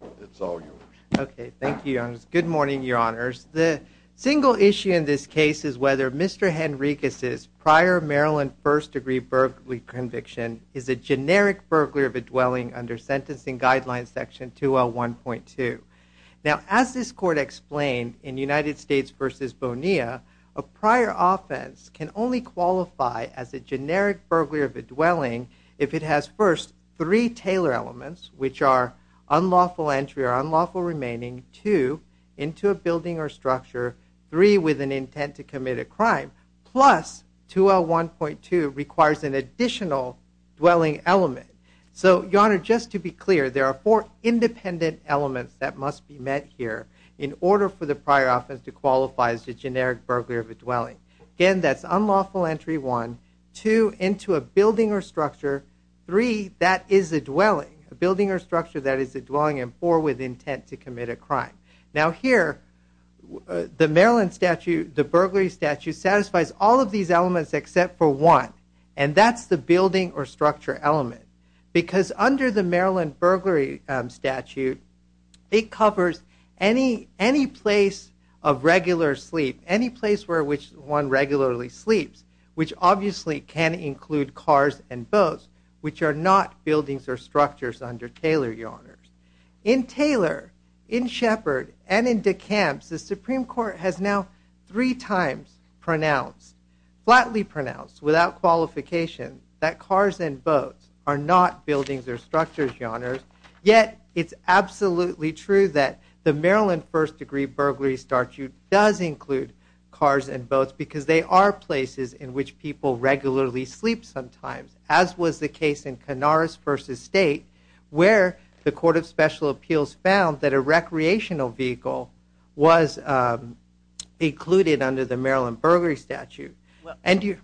The single issue in this case is whether Mr. Henriquez's prior Maryland first-degree burglary conviction is a generic burglary of a dwelling under Sentencing Guidelines Section 2L1.2. As this Court explained in United States v. Bonilla, a prior offense can only qualify as a generic burglary of a dwelling if it has first three Taylor elements, which are unlawful entry or unlawful remaining, two into a building or structure, three with an intent to commit a crime, plus 2L1.2 requires an additional dwelling element. So, Your Honor, just to be clear, there are four independent elements that must be met here in order for this unlawful entry, one, two, into a building or structure, three, that is a dwelling, a building or structure that is a dwelling, and four, with intent to commit a crime. Now here, the Maryland statute, the burglary statute, satisfies all of these elements except for one, and that's the building or structure element. Because under the Maryland burglary statute, it covers any place of regular sleep, any place where one regularly sleeps, which obviously can include cars and boats, which are not buildings or structures under Taylor, Your Honors. In Taylor, in Sheppard, and in DeCamps, the Supreme Court has now three times pronounced, flatly pronounced, without qualification, that cars and boats are not buildings or structures, Your Honors, yet it's absolutely true that the Maryland first degree burglary statute does include cars and boats because they are places in which people regularly sleep sometimes, as was the case in Canaris v. State, where the Court of Special Appeals found that a recreational vehicle was included under the Maryland burglary statute. And you...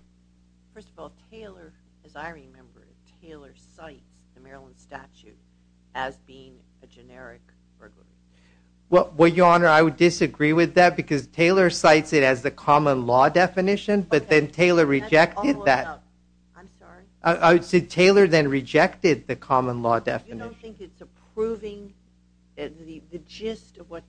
First of all, Taylor, as I remember, Taylor cites the Maryland statute as being a generic burglary. Well, Your Honor, I would disagree with that because Taylor cites it as the common law definition, but then Taylor rejected that. I'm sorry? I said Taylor then rejected the common law definition. You don't think it's approving the gist of what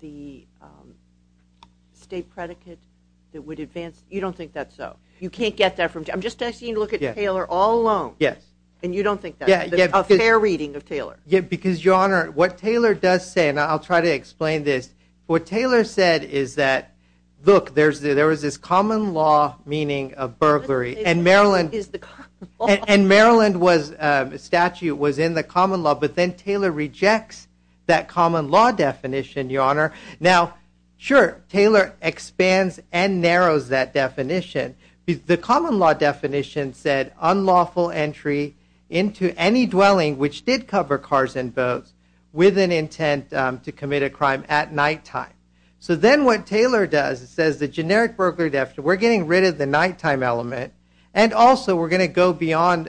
the state predicate that would advance... You don't think that's so? You can't get that from... I'm just asking you to look at Taylor all alone. Yes. And you don't think that's a fair reading of Taylor? Yeah, because, Your Honor, what Taylor does say, and I'll try to explain this, what Taylor said is that, look, there was this common law meaning of burglary, and Maryland... And Maryland was, the statute was in the common law, but then Taylor rejects that common law definition, Your Honor. Now, sure, Taylor expands and narrows that definition. The common law definition said unlawful entry into any dwelling which did cover cars and boats with an intent to commit a crime at nighttime. So then what Taylor does, it says the generic burglary definition, we're getting rid of the nighttime element, and also we're going to go beyond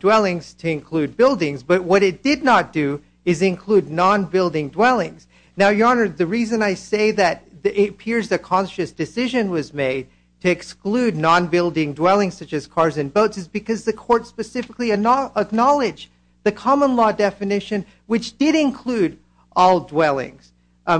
dwellings to include buildings, but what it did not do is include non-building dwellings. Now, Your Honor, the reason I say that it appears a conscious decision was made to exclude non-building dwellings such as cars and boats is because the court specifically acknowledged the common law definition which did include all dwellings,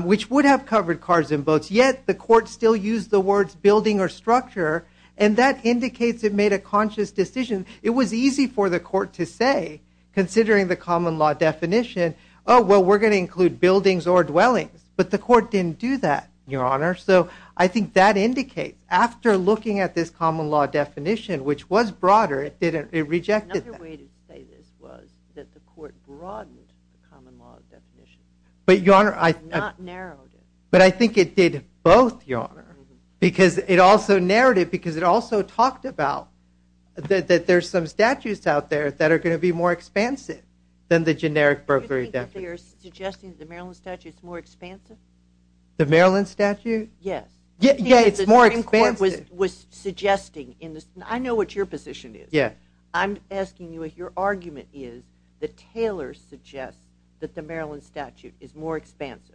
which would have covered cars and boats, yet the court still used the words building or structure, and that indicates it made a conscious decision. It was easy for the court to say, considering the common law definition, oh, well, we're going to include buildings or dwellings, but the court didn't do that, Your Honor. So I think that indicates, after looking at this common law definition, which was broader, it rejected that. Another way to say this was that the because it also narrated, because it also talked about that there's some statutes out there that are going to be more expansive than the generic burglary definition. Do you think that they are suggesting the Maryland statute is more expansive? The Maryland statute? Yes. Yeah, it's more expansive. I know what your position is. Yeah. I'm asking you if your argument is that Taylor suggests that the Maryland statute is more expansive.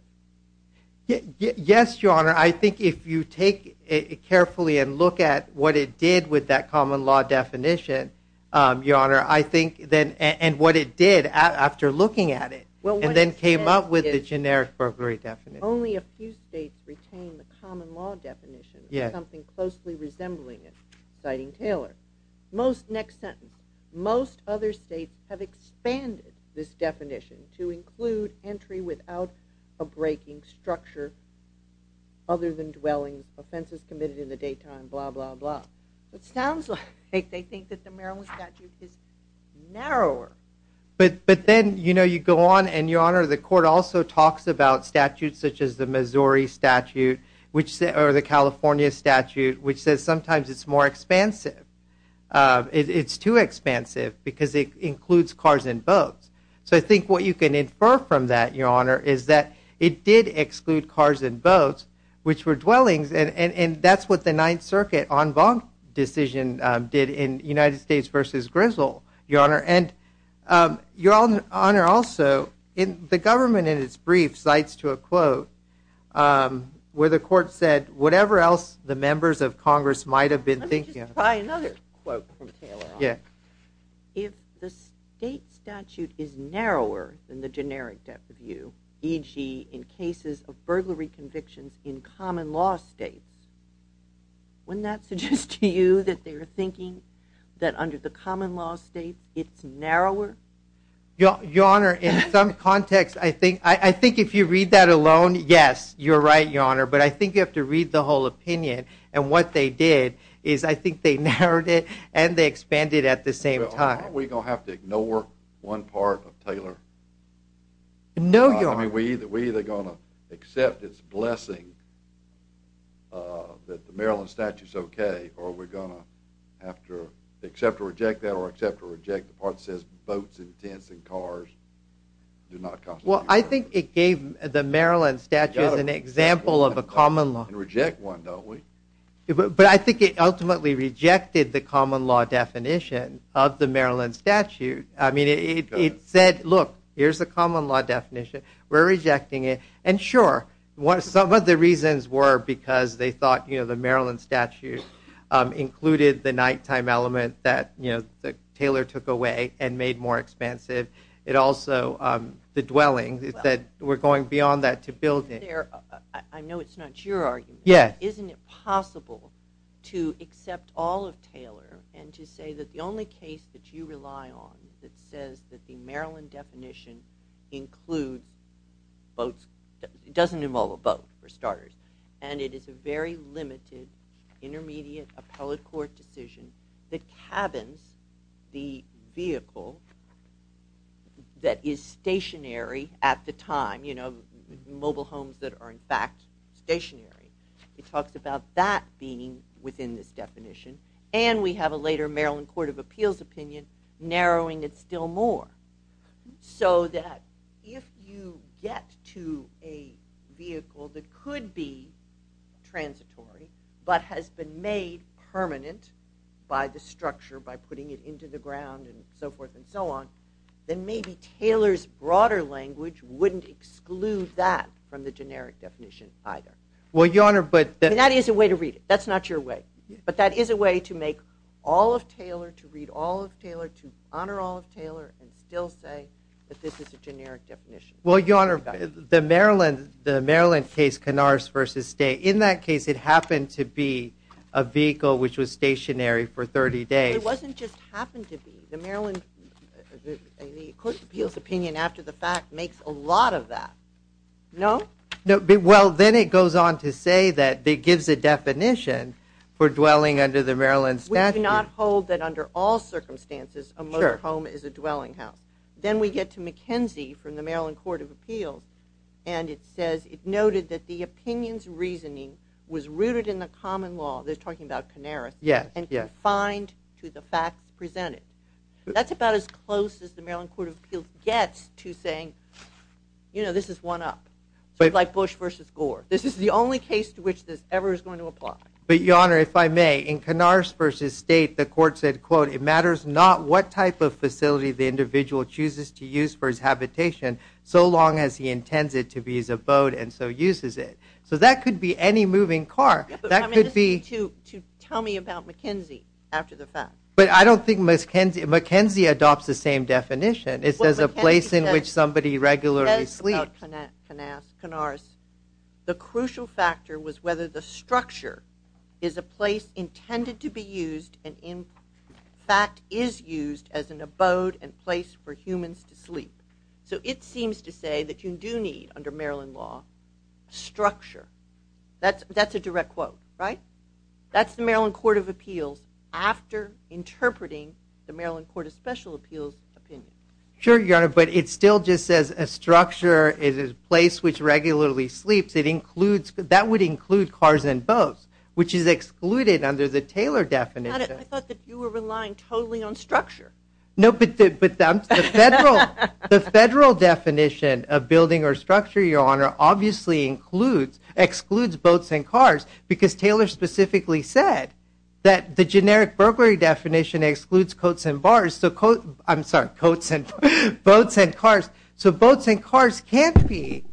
Yes, Your Honor. I think if you take it carefully and look at what it did with that common law definition, Your Honor, I think then, and what it did after looking at it, and then came up with the generic burglary definition. Only a few states retain the common law definition, something closely resembling it, citing Taylor. Most, next sentence, most other states have expanded this definition to include entry without a breaking structure other than dwellings, offenses committed in the daytime, blah, blah, blah. It sounds like they think that the Maryland statute is narrower. But then, you know, you go on, and Your Honor, the court also talks about statutes such as the Missouri statute, or the California statute, which says sometimes it's more expansive. It's too expansive because it includes cars and boats. So I think what you can infer from that, Your Honor, is that it did exclude cars and boats, which were dwellings, and that's what the Ninth Circuit en banc decision did in United States versus Grizzle, Your Honor. And Your Honor, also, the government in its brief cites to a quote where the court said, whatever else the members of Congress might have been thinking. Let me just try another quote from Taylor. Yeah. If the state statute is narrower than the generic depth of view, e.g. in cases of burglary convictions in common law states, wouldn't that suggest to you that they were thinking that under the common law state, it's narrower? Your Honor, in some context, I think, I think if you read that alone, yes, you're right, Your Honor, but I think you have to read the whole opinion, and what they did is I think they narrowed it and they expanded at the same time. Are we going to have to ignore one part of Taylor? No, Your Honor. I mean, we're either going to accept its blessing that the Maryland statute's okay, or are we going to have to accept or reject that, or accept or reject the part that says boats and tents and cars do not constitute... I think it gave the Maryland statute as an example of a common law. And reject one, don't we? But I think it ultimately rejected the common law definition of the Maryland statute. I mean, it said, look, here's the common law definition. We're rejecting it. And sure, some of the reasons were because they thought the Maryland statute included the nighttime element that, you know, Taylor took away and made more expansive. It also, the dwelling, that we're going beyond that to build it. I know it's not your argument, but isn't it possible to accept all of Taylor and to say that the only case that you rely on that says that the Maryland definition includes boats, it doesn't involve a boat, for starters, and it is a very common law definition. And it also encabins the vehicle that is stationary at the time, you know, mobile homes that are, in fact, stationary. It talks about that being within this definition. And we have a later Maryland Court of Appeals opinion narrowing it still more. So that if you get to a vehicle that could be transitory, but has been made permanent by the structure, by putting it into the ground and so forth and so on, then maybe Taylor's broader language wouldn't exclude that from the generic definition either. That is a way to read it. That's not your way. But that is a way to make all of Taylor, to read all of Taylor, to honor all of Taylor, and still say that this is a generic definition. Well, Your Honor, the Maryland case, Canars v. State, in that case it happened to be a vehicle which was stationary for 30 days. It wasn't just happened to be. The Maryland Court of Appeals opinion, after the fact, makes a lot of that. No? No. Well, then it goes on to say that it gives a definition for dwelling under the Maryland statute. We do not hold that under all circumstances a motor home is a dwelling house. Then we get to McKenzie from the Maryland Court of Appeals, and it says, it noted that the opinion's reasoning was rooted in the common law, they're talking about Canaris, and confined to the facts presented. That's about as close as the Maryland Court of Appeals gets to saying, you know, this is one up. Like Bush v. Gore. This is the only case to which this ever is going to apply. But Your Honor, if I may, in Canars v. State, the court said, quote, it matters not what type of facility the individual chooses to use for his habitation, so long as he intends it to be his abode, and so uses it. So that could be any moving car. That could be. Tell me about McKenzie, after the fact. But I don't think McKenzie adopts the same definition. It says a place in which somebody regularly sleeps. Canars, the crucial factor was whether the structure is a place intended to be used, and in fact is used as an abode and place for humans to sleep. So it seems to say that you do need, under Maryland law, structure. That's a direct quote, right? That's the Maryland Court of Appeals, after interpreting the Maryland Court of Special Appeals opinion. Sure, Your Honor, but it still just says a structure is a place which sleeps. That would include cars and boats, which is excluded under the Taylor definition. I thought that you were relying totally on structure. No, but the federal definition of building or structure, Your Honor, obviously excludes boats and cars, because Taylor specifically said that the generic burglary definition excludes coats and bars. I'm sorry, coats and boats and cars. So boats and cars can't be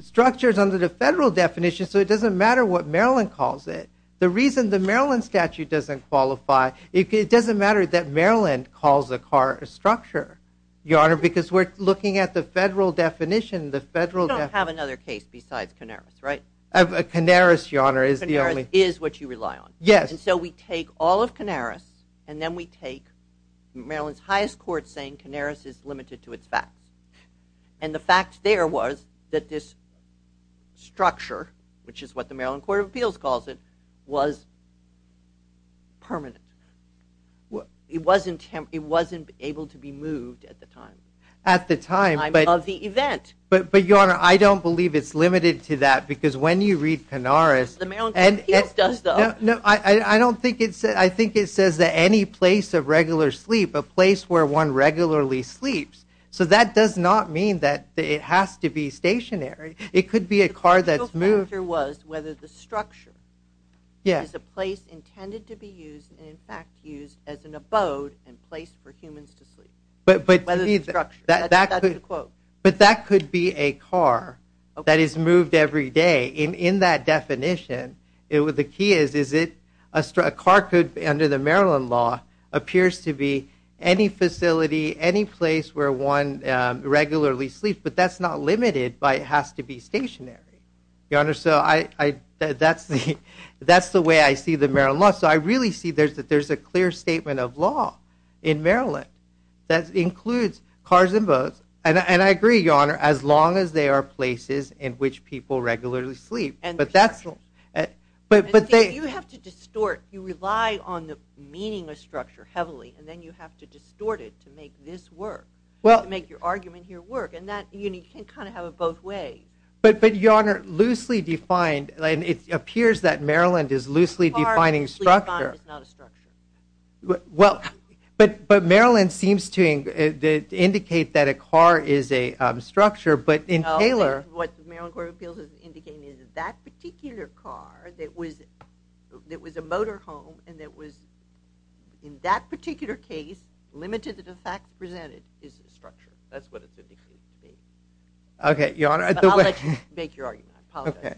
structures under the federal definition, so it doesn't matter what Maryland calls it. The reason the Maryland statute doesn't qualify, it doesn't matter that Maryland calls a car a structure, Your Honor, because we're looking at the federal definition. We don't have another case besides Canaris, right? Canaris, Your Honor, is the only. Canaris is what you rely on. Yes. And so we take all of Canaris, and then we take Maryland's highest court saying Canaris is limited to its facts. And the fact there was that this structure, which is what the Maryland Court of Appeals calls it, was permanent. It wasn't able to be moved at the time. At the time of the event. But Your Honor, I don't believe it's limited to that, because when you read Canaris. The Maryland Court of Appeals says that any place of regular sleep, a place where one regularly sleeps. So that does not mean that it has to be stationary. It could be a car that's moved. The crucial factor was whether the structure is a place intended to be used and in fact used as an abode and place for humans to sleep. Whether the structure. But that could be a car that is moved every day. In that appears to be any facility, any place where one regularly sleeps. But that's not limited by it has to be stationary. Your Honor, so that's the way I see the Maryland law. So I really see that there's a clear statement of law in Maryland that includes cars and boats. And I agree, Your Honor, as long as they are places in which people regularly sleep. But you have to distort. You heavily and then you have to distort it to make this work. Well, make your argument here work. And that you can kind of have it both ways. But Your Honor, loosely defined. It appears that Maryland is loosely defining structure. Well, but Maryland seems to indicate that a car is a structure. But in Taylor, what Maryland Court of Appeals is indicating is that particular car that was a motor home and that was in that particular case limited to the fact presented is a structure. That's what it's indicating. Okay, Your Honor. I'll let you make your argument. Okay.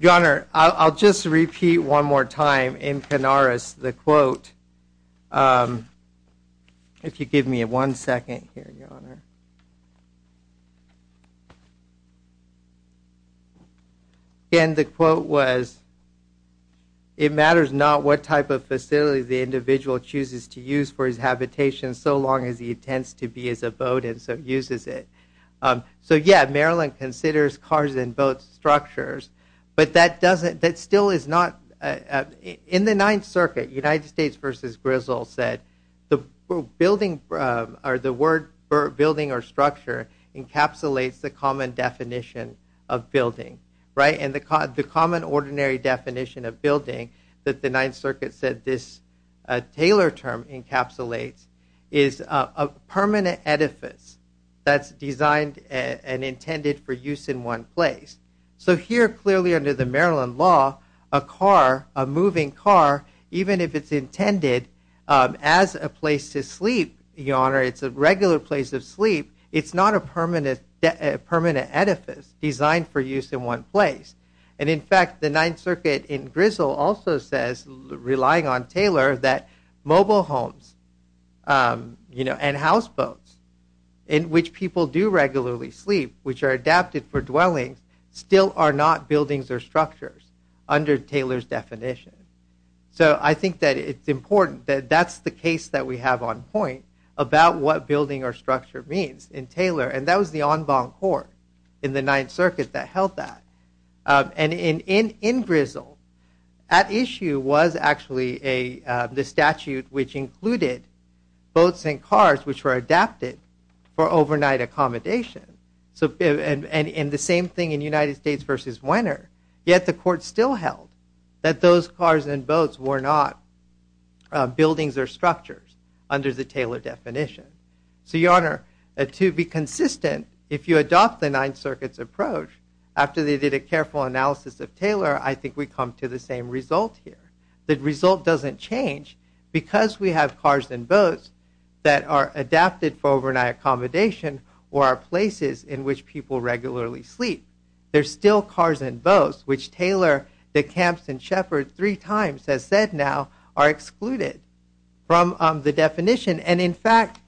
Your Honor, I'll just repeat one more time in Canaris the quote. If you give me one second here, Your Honor. Again, the quote was, it matters not what type of facility the individual chooses to use for his habitation so long as he intends to be as a boat and so uses it. So yeah, Maryland considers cars and boats structures. But that doesn't, that still is not, in the Ninth Circuit, United States versus Grizzle said the building or the word building or structure encapsulates the common definition of building, right? And the common ordinary definition of building that the Ninth Circuit said this Taylor term encapsulates is a permanent edifice that's designed and intended for use in one place. So here clearly under the Maryland law, a car, a moving car, even if it's intended as a place to sleep, Your Honor, it's a regular place of sleep, it's not a permanent edifice designed for use in one place. And in fact, the Ninth Circuit in Grizzle also says, relying on Taylor, that mobile homes, you know, and houseboats in which people do regularly sleep, which are adapted for dwellings, still are not buildings or structures under Taylor's definition. So I think that it's important that that's the case that we have on point about what building or structure means in Taylor. And that was the en banc court in the Ninth Circuit that held that. And in Grizzle, at issue was actually the statute which included boats and cars which were adapted for overnight accommodation. And the same thing in United States versus Winter. Yet the court still held that those cars and boats were not buildings or structures under the Taylor definition. So Your Honor, to be consistent, if you adopt the Ninth Circuit's approach, after they did a careful analysis of Taylor, I think we come to the same result here. The result doesn't change because we have cars and boats that are adapted for overnight accommodation or are places in which people regularly sleep. There's still cars and boats, which Taylor, DeCamps and Shepard three times has said now are excluded from the definition. And in fact,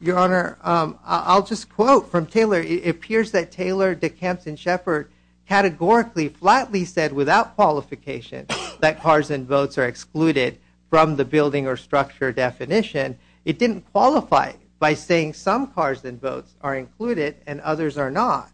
Your Honor, I'll just quote from Taylor. It appears that Taylor, DeCamps and Shepard categorically, flatly said without qualification that cars and boats are excluded from the building or structure definition. It didn't qualify by saying some cars and boats are included and others are not.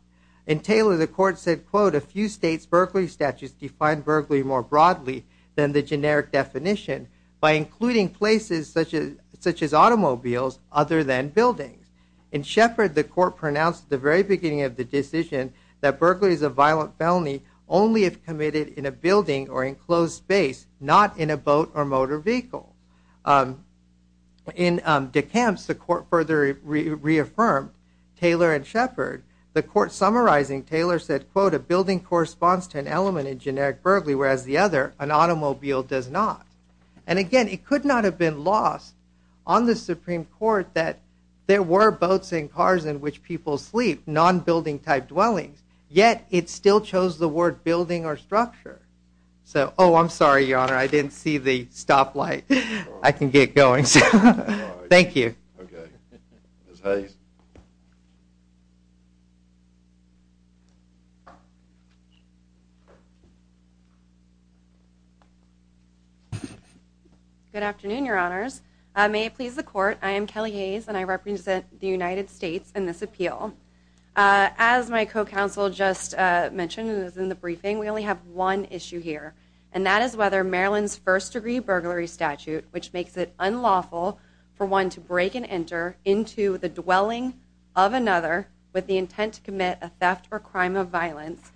In Taylor, the court said, quote, a few states Berkeley statutes define Berkeley more broadly than the generic definition by including places such as such as automobiles other than buildings. In Shepard, the court pronounced at the very beginning of the decision that Berkeley is a violent felony only if committed in a building or enclosed space, not in a boat or motor vehicle. In DeCamps, the court further reaffirmed Taylor and Shepard. The court summarizing Taylor said, quote, a building corresponds to an element in generic Berkeley, whereas the other, an automobile does not. And again, it could not have been lost on the Supreme Court that there were boats and cars in which people sleep, non-building type dwellings, yet it still chose the word building or structure. So, oh, I'm sorry, your honor. I didn't see the stoplight. I can get going. Thank you. Good afternoon, your honors. May it please the court. I am Kelly Hayes and I represent the United States in this appeal. As my co-counsel just mentioned in the briefing, we only have one issue here, and that is whether Maryland's first degree burglary statute, which makes it unlawful for one to break and enter into the dwelling of another with the intent to commit a theft or crime of violence,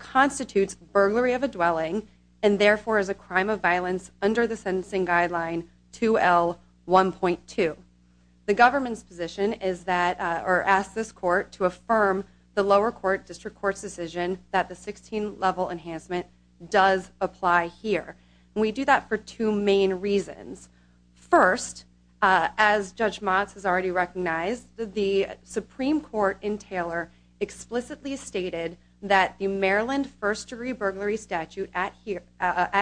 constitutes burglary of a dwelling and therefore is a crime of violence under the sentencing guideline 2L1.2. The government's position is that or ask this court to affirm the lower court district court's decision that the 16 level enhancement does apply here. And we do that for two main reasons. First, as Judge Motz has already recognized, the Supreme Court in Taylor explicitly stated that the Maryland first degree burglary statute at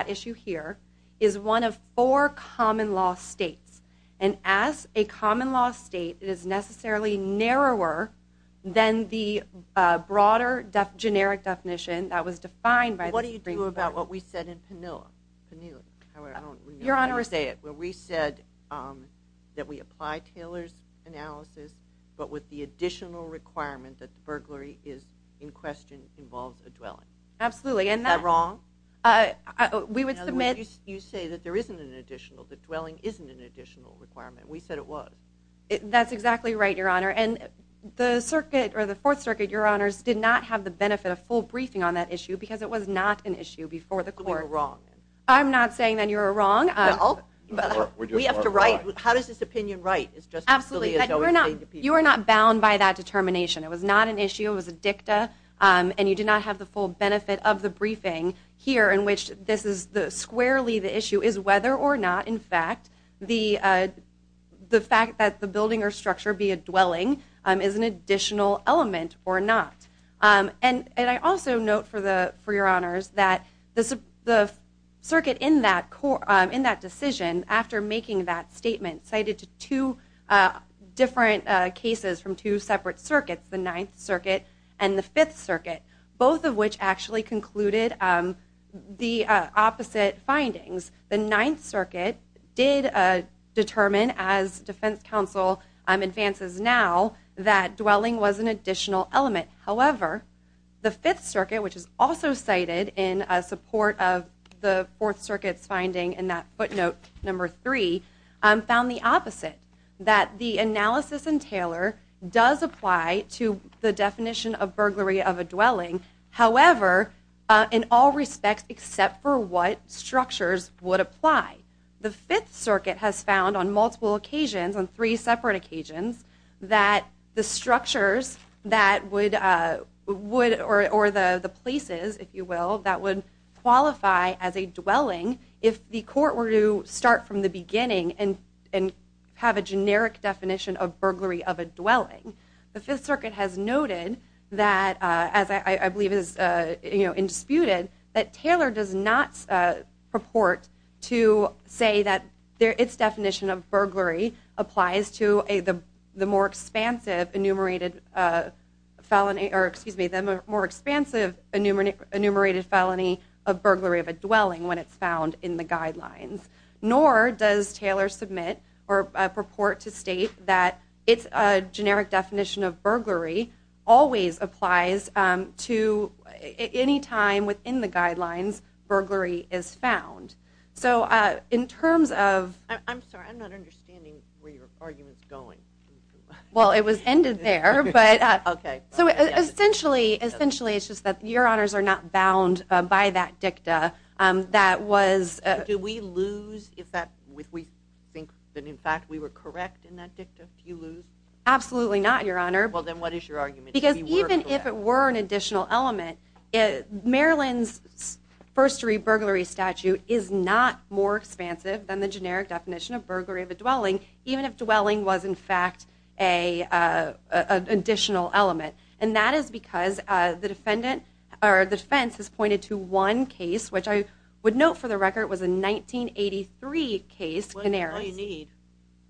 issue here is one of four common law states. And as a common law state, it is necessarily narrower than the broader generic definition that was defined by the Supreme Court. What do you do about what we said in Penila? Your honor. I don't know how to say it, but we said that we apply Taylor's analysis, but with the additional requirement that the burglary is in question involves a dwelling. Absolutely. Is that wrong? You say that there isn't an additional, the dwelling isn't an additional requirement. We said it was. That's exactly right, your honor. And the circuit or the fourth circuit, your honors did not have the benefit of full briefing on that issue because it was not an issue before the court. I'm not saying that you're wrong. We have to write. How does this opinion write? Absolutely. You are not bound by that of the briefing here in which this is the squarely. The issue is whether or not, in fact, the fact that the building or structure be a dwelling is an additional element or not. And I also note for the, for your honors, that the circuit in that court, in that decision, after making that statement cited to two different cases from two separate circuits, the Ninth Circuit and the Fifth Circuit, both of which actually concluded the opposite findings. The Ninth Circuit did determine as defense counsel advances now that dwelling was an additional element. However, the Fifth Circuit, which is also cited in support of the Fourth Circuit's finding in that footnote number three, found the opposite, that the analysis in Taylor does apply to the definition of burglary of a dwelling. However, in all respects, except for what structures would apply, the Fifth Circuit has found on multiple occasions on three separate occasions that the structures that would would or the places, if you will, that would qualify as a dwelling. If the court were to start from the beginning and and have a generic definition of burglary of a dwelling, the Fifth Circuit has noted that, as I believe is, you know, indisputed, that Taylor does not purport to say that its definition of burglary applies to the more expansive enumerated felony, or excuse me, the more expansive enumerated felony of burglary of a dwelling when it's found in the guidelines. Nor does Taylor submit or its generic definition of burglary always applies to any time within the guidelines burglary is found. So in terms of... I'm sorry, I'm not understanding where your argument's going. Well, it was ended there, but... Okay. So essentially, it's just that your honors are not bound by that dicta that was... Do we lose if we think that in fact we were correct in that dicta? Absolutely not, your honor. Well, then what is your argument? Because even if it were an additional element, Maryland's first degree burglary statute is not more expansive than the generic definition of burglary of a dwelling, even if dwelling was in fact an additional element. And that is because the defendant or the defense has pointed to one case, which I would note for record was a 1983 case, Canaris.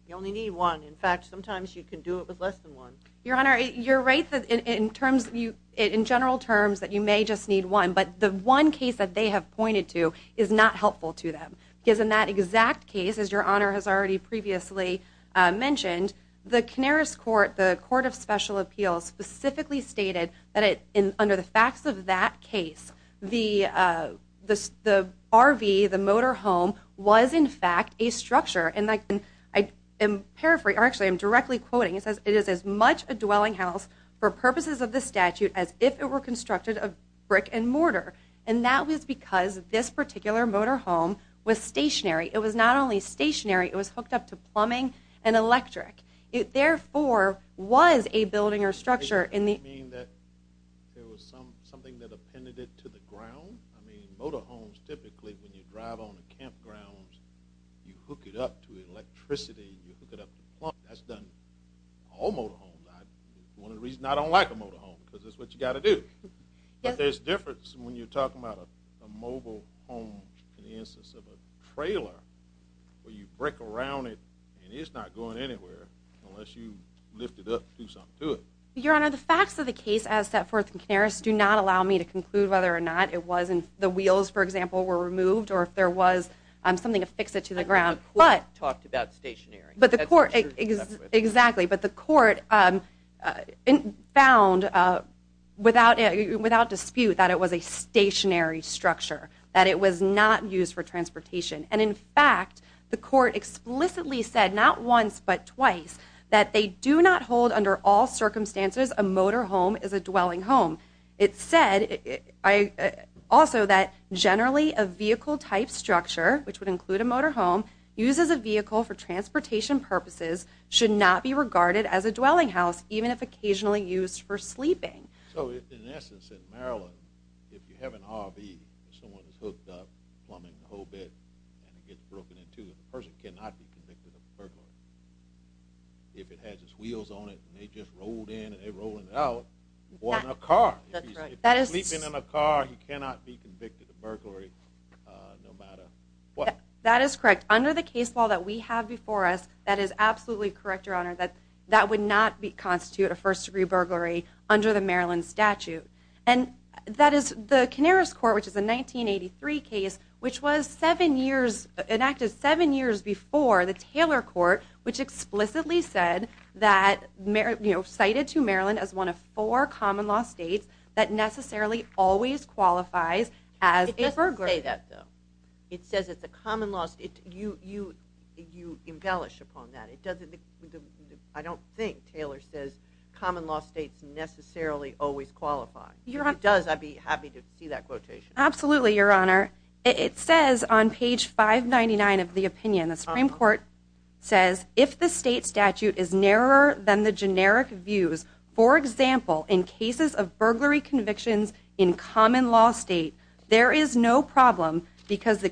You only need one. In fact, sometimes you can do it with less than one. Your honor, you're right in general terms that you may just need one, but the one case that they have pointed to is not helpful to them. Because in that exact case, as your honor has already previously mentioned, the Canaris court, the court of special appeals specifically stated that under the facts of that case, the RV, the motor home, was in fact a structure. And I am paraphrasing... Actually, I'm directly quoting. It says, it is as much a dwelling house for purposes of the statute as if it were constructed of brick and mortar. And that was because this particular motor home was stationary. It was not only stationary, it was hooked up to something that appended it to the ground. I mean, motor homes typically, when you drive on the campgrounds, you hook it up to electricity, you hook it up to plumbing. That's done in all motor homes. One of the reasons I don't like a motor home, because it's what you got to do. But there's a difference when you're talking about a mobile home in the instance of a trailer, where you break around it and it's not going anywhere unless you lift it up and do something to it. Your honor, the facts of the case as set forth in Canaris do not allow me to conclude whether or not it was in the wheels, for example, were removed or if there was something to fix it to the ground. But the court talked about stationary. Exactly. But the court found without dispute that it was a stationary structure, that it was not used for transportation. And in the court explicitly said, not once but twice, that they do not hold under all circumstances a motor home as a dwelling home. It said also that generally a vehicle type structure, which would include a motor home, used as a vehicle for transportation purposes should not be regarded as a dwelling house, even if occasionally used for sleeping. So in essence in Maryland, if you have an RV, someone is hooked up plumbing the whole bed and it gets broken into, the person cannot be convicted of burglary. If it has its wheels on it and they just rolled in and they rolled it out, it wasn't a car. If he's sleeping in a car, he cannot be convicted of burglary no matter what. That is correct. Under the case law that we have before us, that is absolutely correct, your honor, that that would not constitute a first-degree burglary under the Maryland statute. And that is the Canaris court, which is a 1983 case, which was seven years, enacted seven years before the Taylor court, which explicitly said that, you know, cited to Maryland as one of four common law states that necessarily always qualifies as a burglar. It doesn't say that though. It says it's a common law state. You embellish upon that. It doesn't, I don't think Taylor says common law states necessarily always qualify. If it does, I'd be happy to see that quotation. Absolutely, your honor. It says on page 599 of the opinion, the Supreme court says if the state statute is narrower than the generic views, for example, in cases of burglary convictions in common law state, there is no problem because the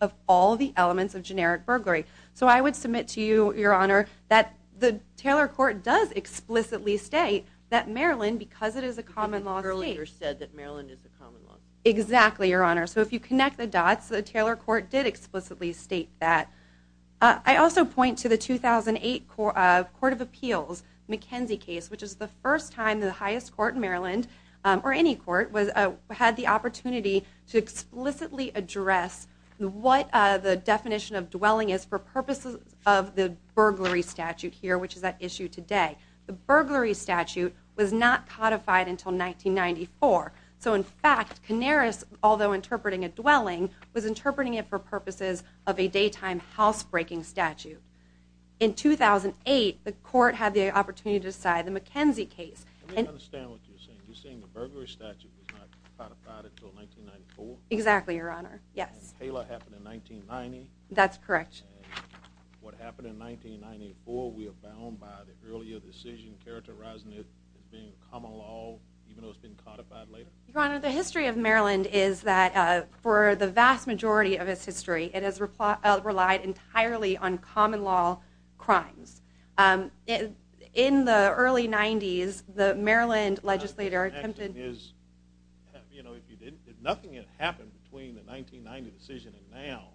of all the elements of generic burglary. So I would submit to you, your honor, that the Taylor court does explicitly state that Maryland, because it is a common law state, earlier said that Maryland is a common law state. Exactly, your honor. So if you connect the dots, the Taylor court did explicitly state that. I also point to the 2008 court of appeals, McKenzie case, which is the first time the highest court in Maryland, or any court, had the opportunity to explicitly address what the definition of dwelling is for purposes of the burglary statute here, which is at issue today. The burglary statute was not codified until 1994. So in fact, Canaris, although interpreting a dwelling, was interpreting it for purposes of a daytime house breaking statute. In 2008, the court had the opportunity to decide the McKenzie case. Let me understand what you're saying. You're saying the burglary statute was not codified until 1994? Exactly, your honor. Yes. And Taylor happened in 1990? That's correct. What happened in 1994, we are bound by the earlier decision characterizing it as being common law, even though it's been codified later? Your honor, the history of Maryland is that for the vast majority of its history, it has relied entirely on common law crimes. In the early 90s, the Maryland legislator attempted... You know, if you didn't, if nothing had happened between the 1990 decision and now,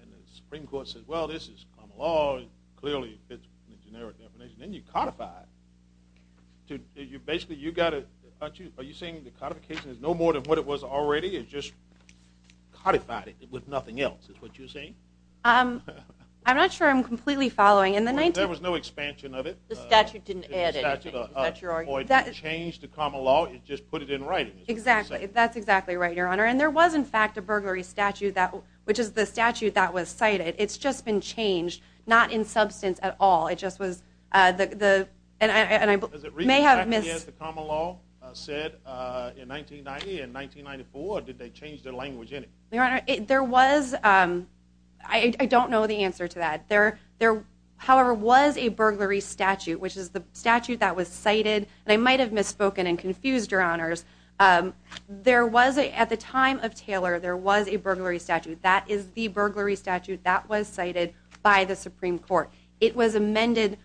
and the Supreme Court says, well, this is common law, it clearly fits the generic definition, then you codify it. Basically, you got to, are you saying the codification is no more than what it was already? It just codified it with nothing else, is what you're saying? I'm not sure I'm following. There was no expansion of it. The statute didn't add it. It just put it in writing. Exactly. That's exactly right, your honor. And there was, in fact, a burglary statute that, which is the statute that was cited. It's just been changed, not in substance at all. It just was the, and I may have missed... Is it exactly as the common law said in 1990 and 1994, did they change their language in it? Your honor, there was, I don't know the answer to that. However, was a burglary statute, which is the statute that was cited, and I might have misspoken and confused your honors. There was a, at the time of Taylor, there was a burglary statute. That is the burglary statute that was cited by the Supreme Court. It was amended,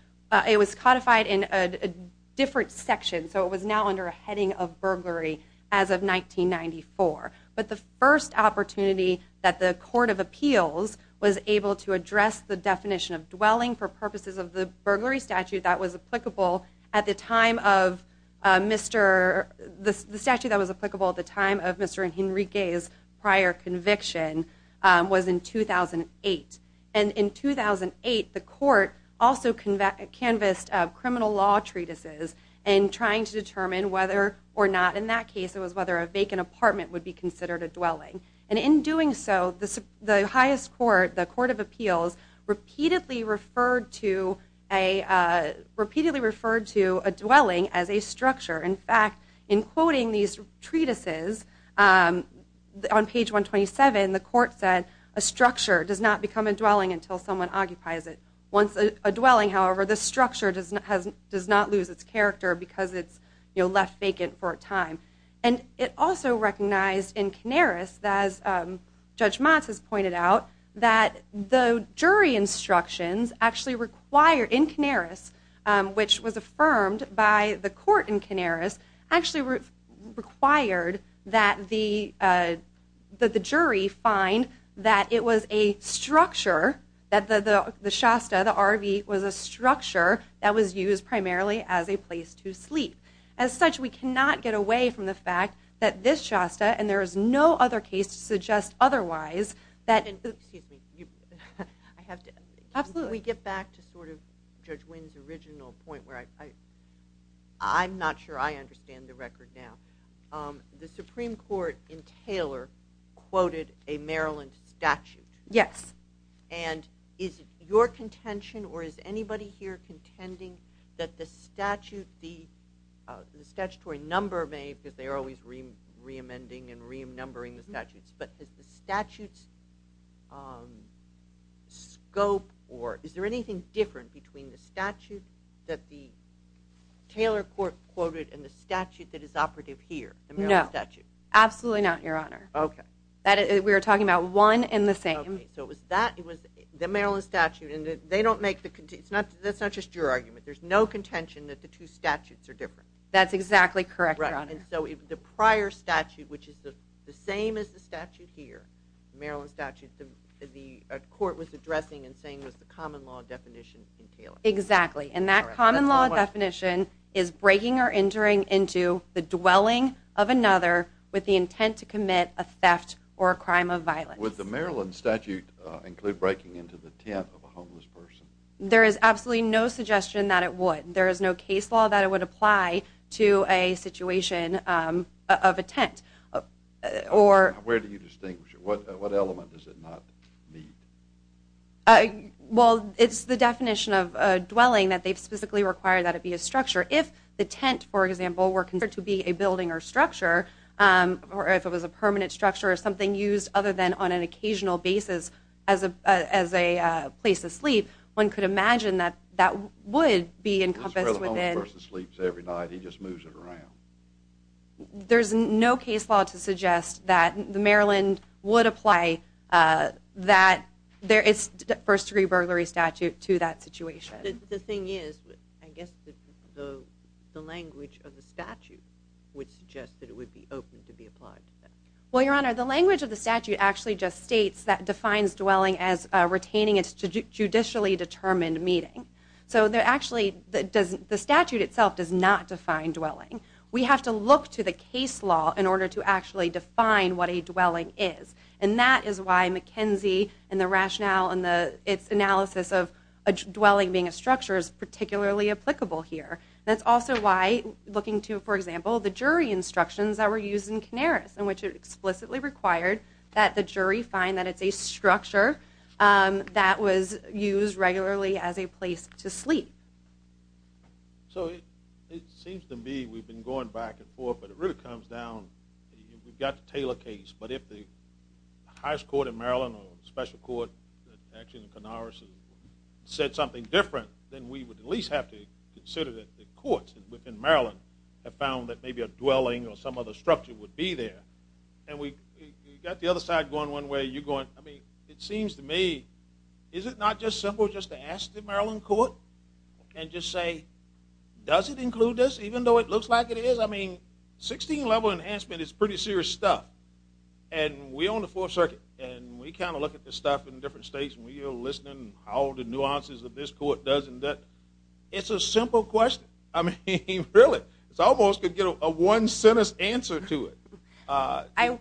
it was codified in a different section. So it was now under a heading of burglary as of 1994. But the first opportunity that the court of appeals was able to address the definition of dwelling for purposes of the burglary statute that was applicable at the time of Mr., the statute that was applicable at the time of Mr. and Henrique's prior conviction was in 2008. And in 2008, the court also canvassed criminal law treatises and trying to determine whether or not, in that case, it was whether a vacant apartment would be considered a dwelling. And in doing so, the highest court, the court of appeals, repeatedly referred to a dwelling as a structure. In fact, in quoting these treatises on page 127, the court said, a structure does not become a dwelling until someone occupies it. Once a dwelling, however, the structure does not lose its character because it's, you know, left vacant for a time. And it also recognized in Canaris, as Judge Motz has pointed out, that the jury instructions actually require, in Canaris, which was affirmed by the court in Canaris, actually required that the jury find that it was a structure, that the Shasta, the RV, was a structure that was used the fact that this Shasta, and there is no other case to suggest otherwise, that... And excuse me, I have to... Absolutely. We get back to sort of Judge Wynn's original point where I'm not sure I understand the record now. The Supreme Court in Taylor quoted a Maryland statute. Yes. And is it your contention or is anybody here contending that the statute, the statutory number may, because they are always re-amending and re-numbering the statutes, but is the statute's scope or is there anything different between the statute that the Taylor court quoted and the statute that is operative here, the Maryland statute? No. Absolutely not, Your Honor. Okay. That is, we are talking about one and the same. Okay. So it was that, it was the Maryland statute and they don't make the, it's not, that's not just your argument. There's no contention that the two statutes are different. That's exactly correct, Your Honor. And so the prior statute, which is the same as the statute here, the Maryland statute, the court was addressing and saying was the common law definition in Taylor. Exactly. And that common law definition is breaking or entering into the dwelling of another with the intent to commit a theft or a crime of violence. Would the Maryland statute include breaking into the tent of a homeless person? There is absolutely no suggestion that it would. There is no case law that it would apply to a situation of a tent or... Where do you distinguish it? What element does it not need? Well, it's the definition of a dwelling that they've specifically required that it be a structure. If the tent, for example, were considered to be a building or structure, or if it was a permanent structure or something used other than on an occasional basis as a place of sleep, one could imagine that that would be encompassed within... This is where the homeless person sleeps every night. He just moves it around. There's no case law to suggest that the Maryland would apply that first degree burglary statute to that situation. The thing is, I guess the language of the statute would suggest that it would be open to be applied to that. Well, Your Honor, the language of the statute actually just states that it defines dwelling as retaining its judicially determined meeting. The statute itself does not define dwelling. We have to look to the case law in order to actually define what a dwelling is, and that is why McKenzie and the rationale and its analysis of a dwelling being a structure is particularly applicable here. That's also why looking to, for example, the jury instructions that were used in Canaris, in which it explicitly required that the jury find that it's a structure that was used regularly as a place to sleep. So it seems to me we've been going back and forth, but it really comes down... We've got the Taylor case, but if the highest court in Maryland or special court actually in Canaris said something different, then we would at least have to consider that courts within Maryland have found that maybe a dwelling or some other structure would be there. And we've got the other side going one way, you're going... I mean, it seems to me, is it not just simple just to ask the Maryland court and just say, does it include this, even though it looks like it is? I mean, 16-level enhancement is pretty serious stuff, and we own the Fourth Circuit, and we kind of look at this stuff in different states, and we are listening to all the nuances that this court does and doesn't. It's a simple question. I mean, really, it's almost a one-sentence answer to it.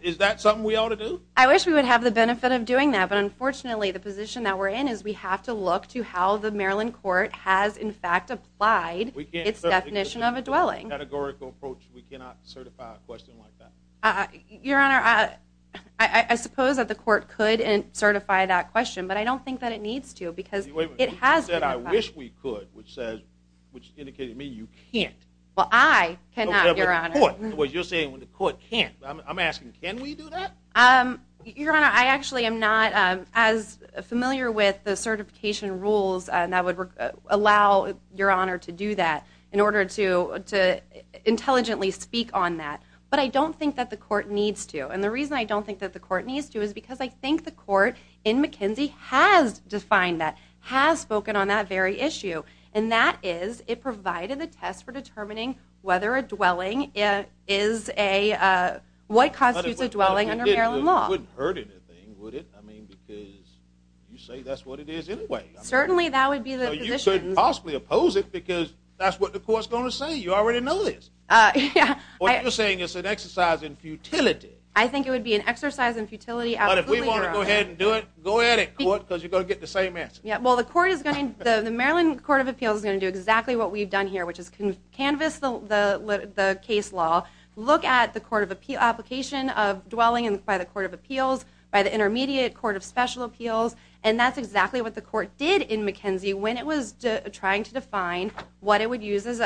Is that something we ought to do? I wish we would have the benefit of doing that, but unfortunately, the position that we're in is we have to look to how the Maryland court has, in fact, applied its definition of a dwelling. Categorical approach, we cannot certify a question like that. Your Honor, I suppose that the court could certify that question, but I don't think that it needs to because it has... You said, I wish we could, which indicated to me you can't. Well, I cannot, Your Honor. You're saying the court can't. I'm asking, can we do that? Your Honor, I actually am not as familiar with the certification rules that would allow Your Honor to do that in order to intelligently speak on that, but I don't think that the court needs to, and the reason I don't think that the court needs to is because I think the court in McKenzie has defined that, has spoken on that very issue, and that is it provided a test for determining whether a dwelling is a... What constitutes a dwelling under Maryland law. It wouldn't hurt anything, would it? I mean, because you say that's what it is anyway. Certainly, that would be the position. Well, you shouldn't possibly oppose it because that's what the court's going to say. You already know this. What you're saying is an exercise in futility. I think it would be an exercise in futility. But if we want to go ahead and do it, go ahead at court because you're going to get the same answer. Yeah, well, the court is going to... The Maryland Court of Appeals is going to do exactly what we've done here, which is canvass the case law, look at the court of application of dwelling by the by the intermediate court of special appeals, and that's exactly what the court did in McKenzie when it was trying to define what it would use as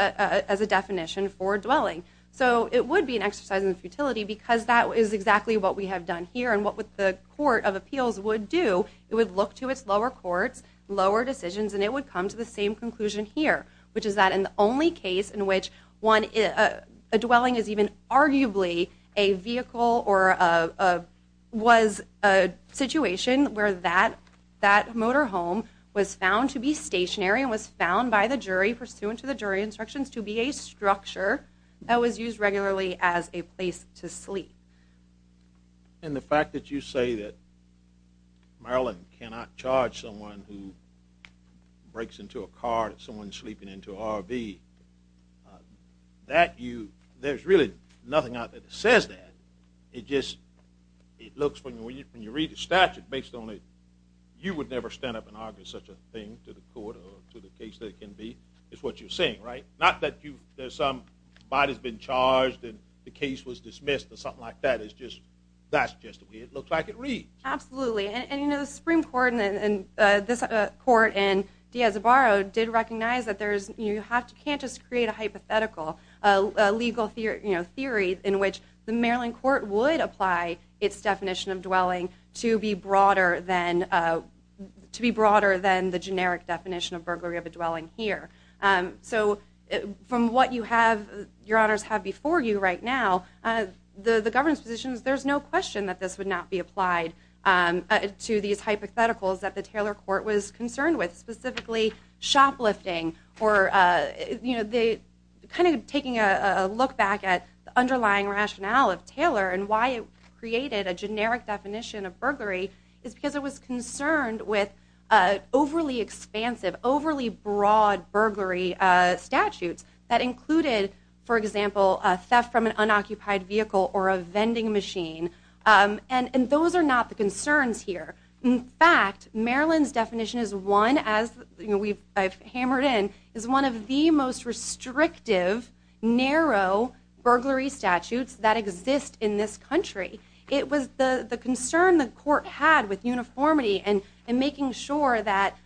a definition for dwelling. So it would be an exercise in futility because that is exactly what we have done here. And what the court of appeals would do, it would look to its lower courts, lower decisions, and it would come to the same conclusion here, which is that in the only case in which a dwelling is even arguably a vehicle or was a situation where that motor home was found to be stationary and was found by the jury pursuant to the jury instructions to be a structure that was used regularly as a place to sleep. And the fact that you say that Maryland cannot charge someone who breaks into a car that someone's sleeping into an RV, that you, there's really nothing out there that says that. It just, it looks when you read the statute based on it, you would never stand up and argue such a thing to the court or to the case that it can be. It's what you're saying, right? Not that you, there's some body's been charged and the case was dismissed or something like that. It's just, that's just the way it is. The Supreme Court and this court in Diaz de Barro did recognize that there's, you have to, can't just create a hypothetical, a legal theory in which the Maryland court would apply its definition of dwelling to be broader than, to be broader than the generic definition of burglary of a dwelling here. So from what you have, your honors have before you right now, the governance positions, there's no question that this would not be applied to these hypotheticals that the Taylor court was concerned with, specifically shoplifting or you know, the kind of taking a look back at the underlying rationale of Taylor and why it created a generic definition of burglary is because it was concerned with overly expansive, overly broad burglary statutes that included, for example, a theft from an unoccupied vehicle or a vending machine. And those are not the concerns here. In fact, Maryland's definition is one as you know, we've, I've hammered in, is one of the most restrictive narrow burglary statutes that exist in this country. It was the concern the court had with uniformity and making sure that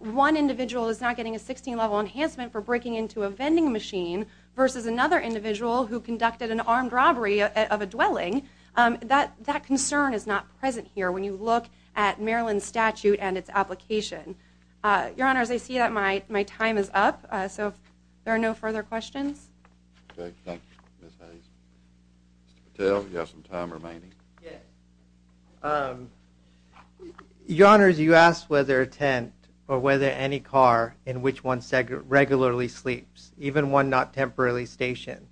one individual is not getting a 16 level enhancement for breaking into a vending machine versus another individual who conducted an armed robbery of a dwelling. That, that concern is not present here. When you look at Maryland statute and its application, your honors, I see that my, my time is up. So if there are no further questions. Okay, thank you. Mr. Patel, you have some time remaining. Yeah. Your honors, you asked whether a tent or whether any car in which one regularly sleeps, even one not temporarily stationed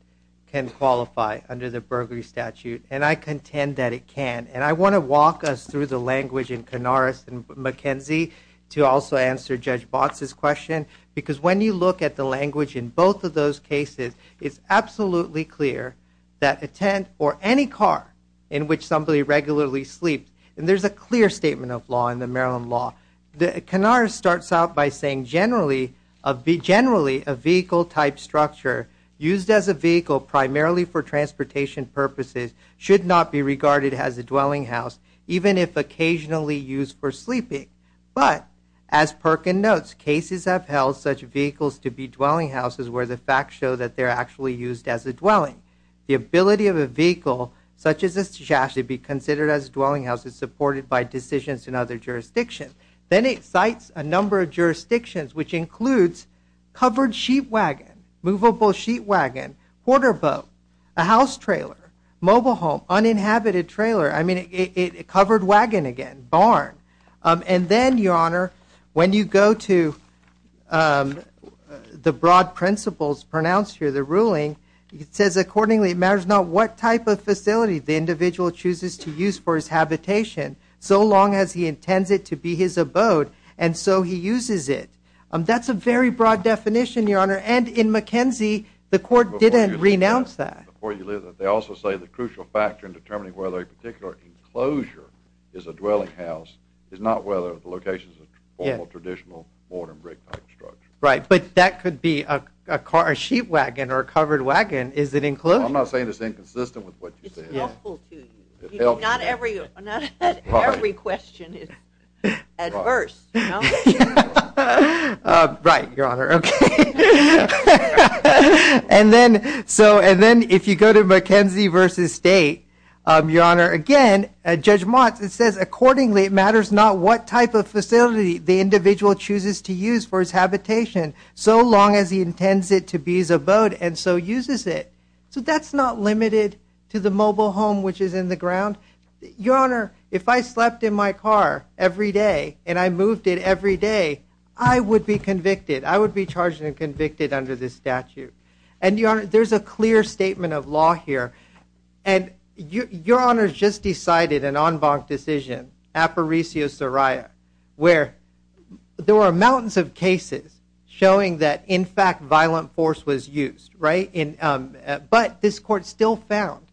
can qualify under the burglary statute. And I contend that it can. And I want to walk us through the language in Canaris and McKenzie to also answer Judge Botts' question. Because when you look at the language in both of those cases, it's absolutely clear that a tent or any car in which somebody regularly sleeps, and there's a clear statement of law in the Maryland law. Canaris starts out by saying generally, generally a vehicle type structure used as a vehicle primarily for transportation purposes should not be regarded as a dwelling house even if occasionally used for sleeping. But as Perkin notes, cases have held such vehicles to be dwelling houses where the facts show that they're actually used as a dwelling. The ability of a vehicle such as this to actually be considered as a dwelling house is supported by decisions in other jurisdictions. Then it cites a number of jurisdictions which includes covered sheet wagon, movable sheet wagon, quarter boat, a house trailer, mobile home, uninhabited trailer. I mean, it covered wagon again, barn. And then, Your Honor, when you go to the broad principles pronounced here, the ruling, it says accordingly it matters not what type of facility the individual chooses to use for his habitation so long as he intends it to be his abode and so he uses it. That's a very broad definition, Your Honor. And in McKenzie, the court didn't renounce that. Before you leave that, they also say the crucial factor in determining whether a particular enclosure is a dwelling house is not whether the location is a formal traditional board and brick type structure. Right, but that could be a car, a sheet wagon or a covered wagon. Is it enclosed? I'm not saying it's inconsistent with what you said. It's helpful to you. Not every question is adverse, you know. Right, Your Honor. Okay. And then so and then if you go to McKenzie versus State, Your Honor, again, Judge Motz, it says accordingly it matters not what type of facility the individual chooses to use for his habitation so long as he intends it to be his abode and so uses it. So that's not limited to the mobile home which is in the ground. Your Honor, if I slept in my car every day and I moved it every day, I would be convicted. I would be charged and convicted under this statute. And Your Honor, there's a clear statement of law here. And Your Honor's just decided an en banc decision, apparitio soria, where there were mountains of cases showing that in fact violent force was used, right? But this court still found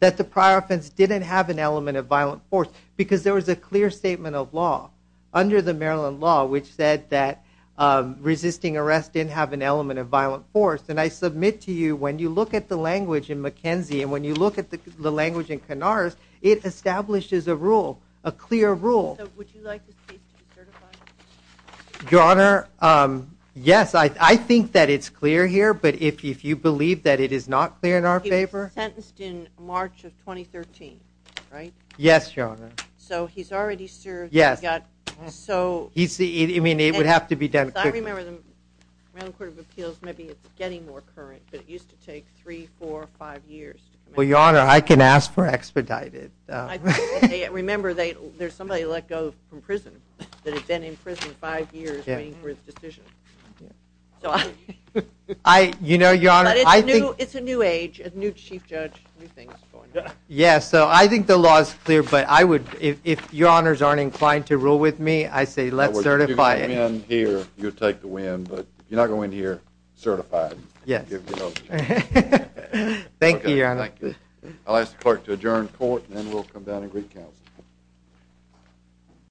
that the prior offense didn't have an element of violent force because there was a clear statement of law under the Maryland law which said that resisting arrest didn't have an element of violent force. And I submit to you when you look at the language in McKenzie and when you look at the language in Canars, it establishes a rule, a clear rule. Your Honor, yes, I think that it's clear here. But if you believe that it is not clear in our favor. Sentenced in March of 2013, right? Yes, Your Honor. So he's already served. Yes, so he's the, I mean it would have to be done. I remember the Maryland Court of Appeals, maybe it's getting more current, but it used to take three, four, five years. Well, Your Honor, I can ask for expedited. Remember, there's somebody let go from prison that had been in prison five years waiting for his decision. So I, you know, Your Honor, I think it's a new age, a new chief judge, new things going on. Yes, so I think the law is clear, but I would, if Your Honors aren't inclined to rule with me, I say let's certify it. If you come in here, you'll take the win, but you're not going to win here certified. Yes, thank you, Your Honor. I'll ask the clerk to adjourn court and then we'll come down and greet counsel.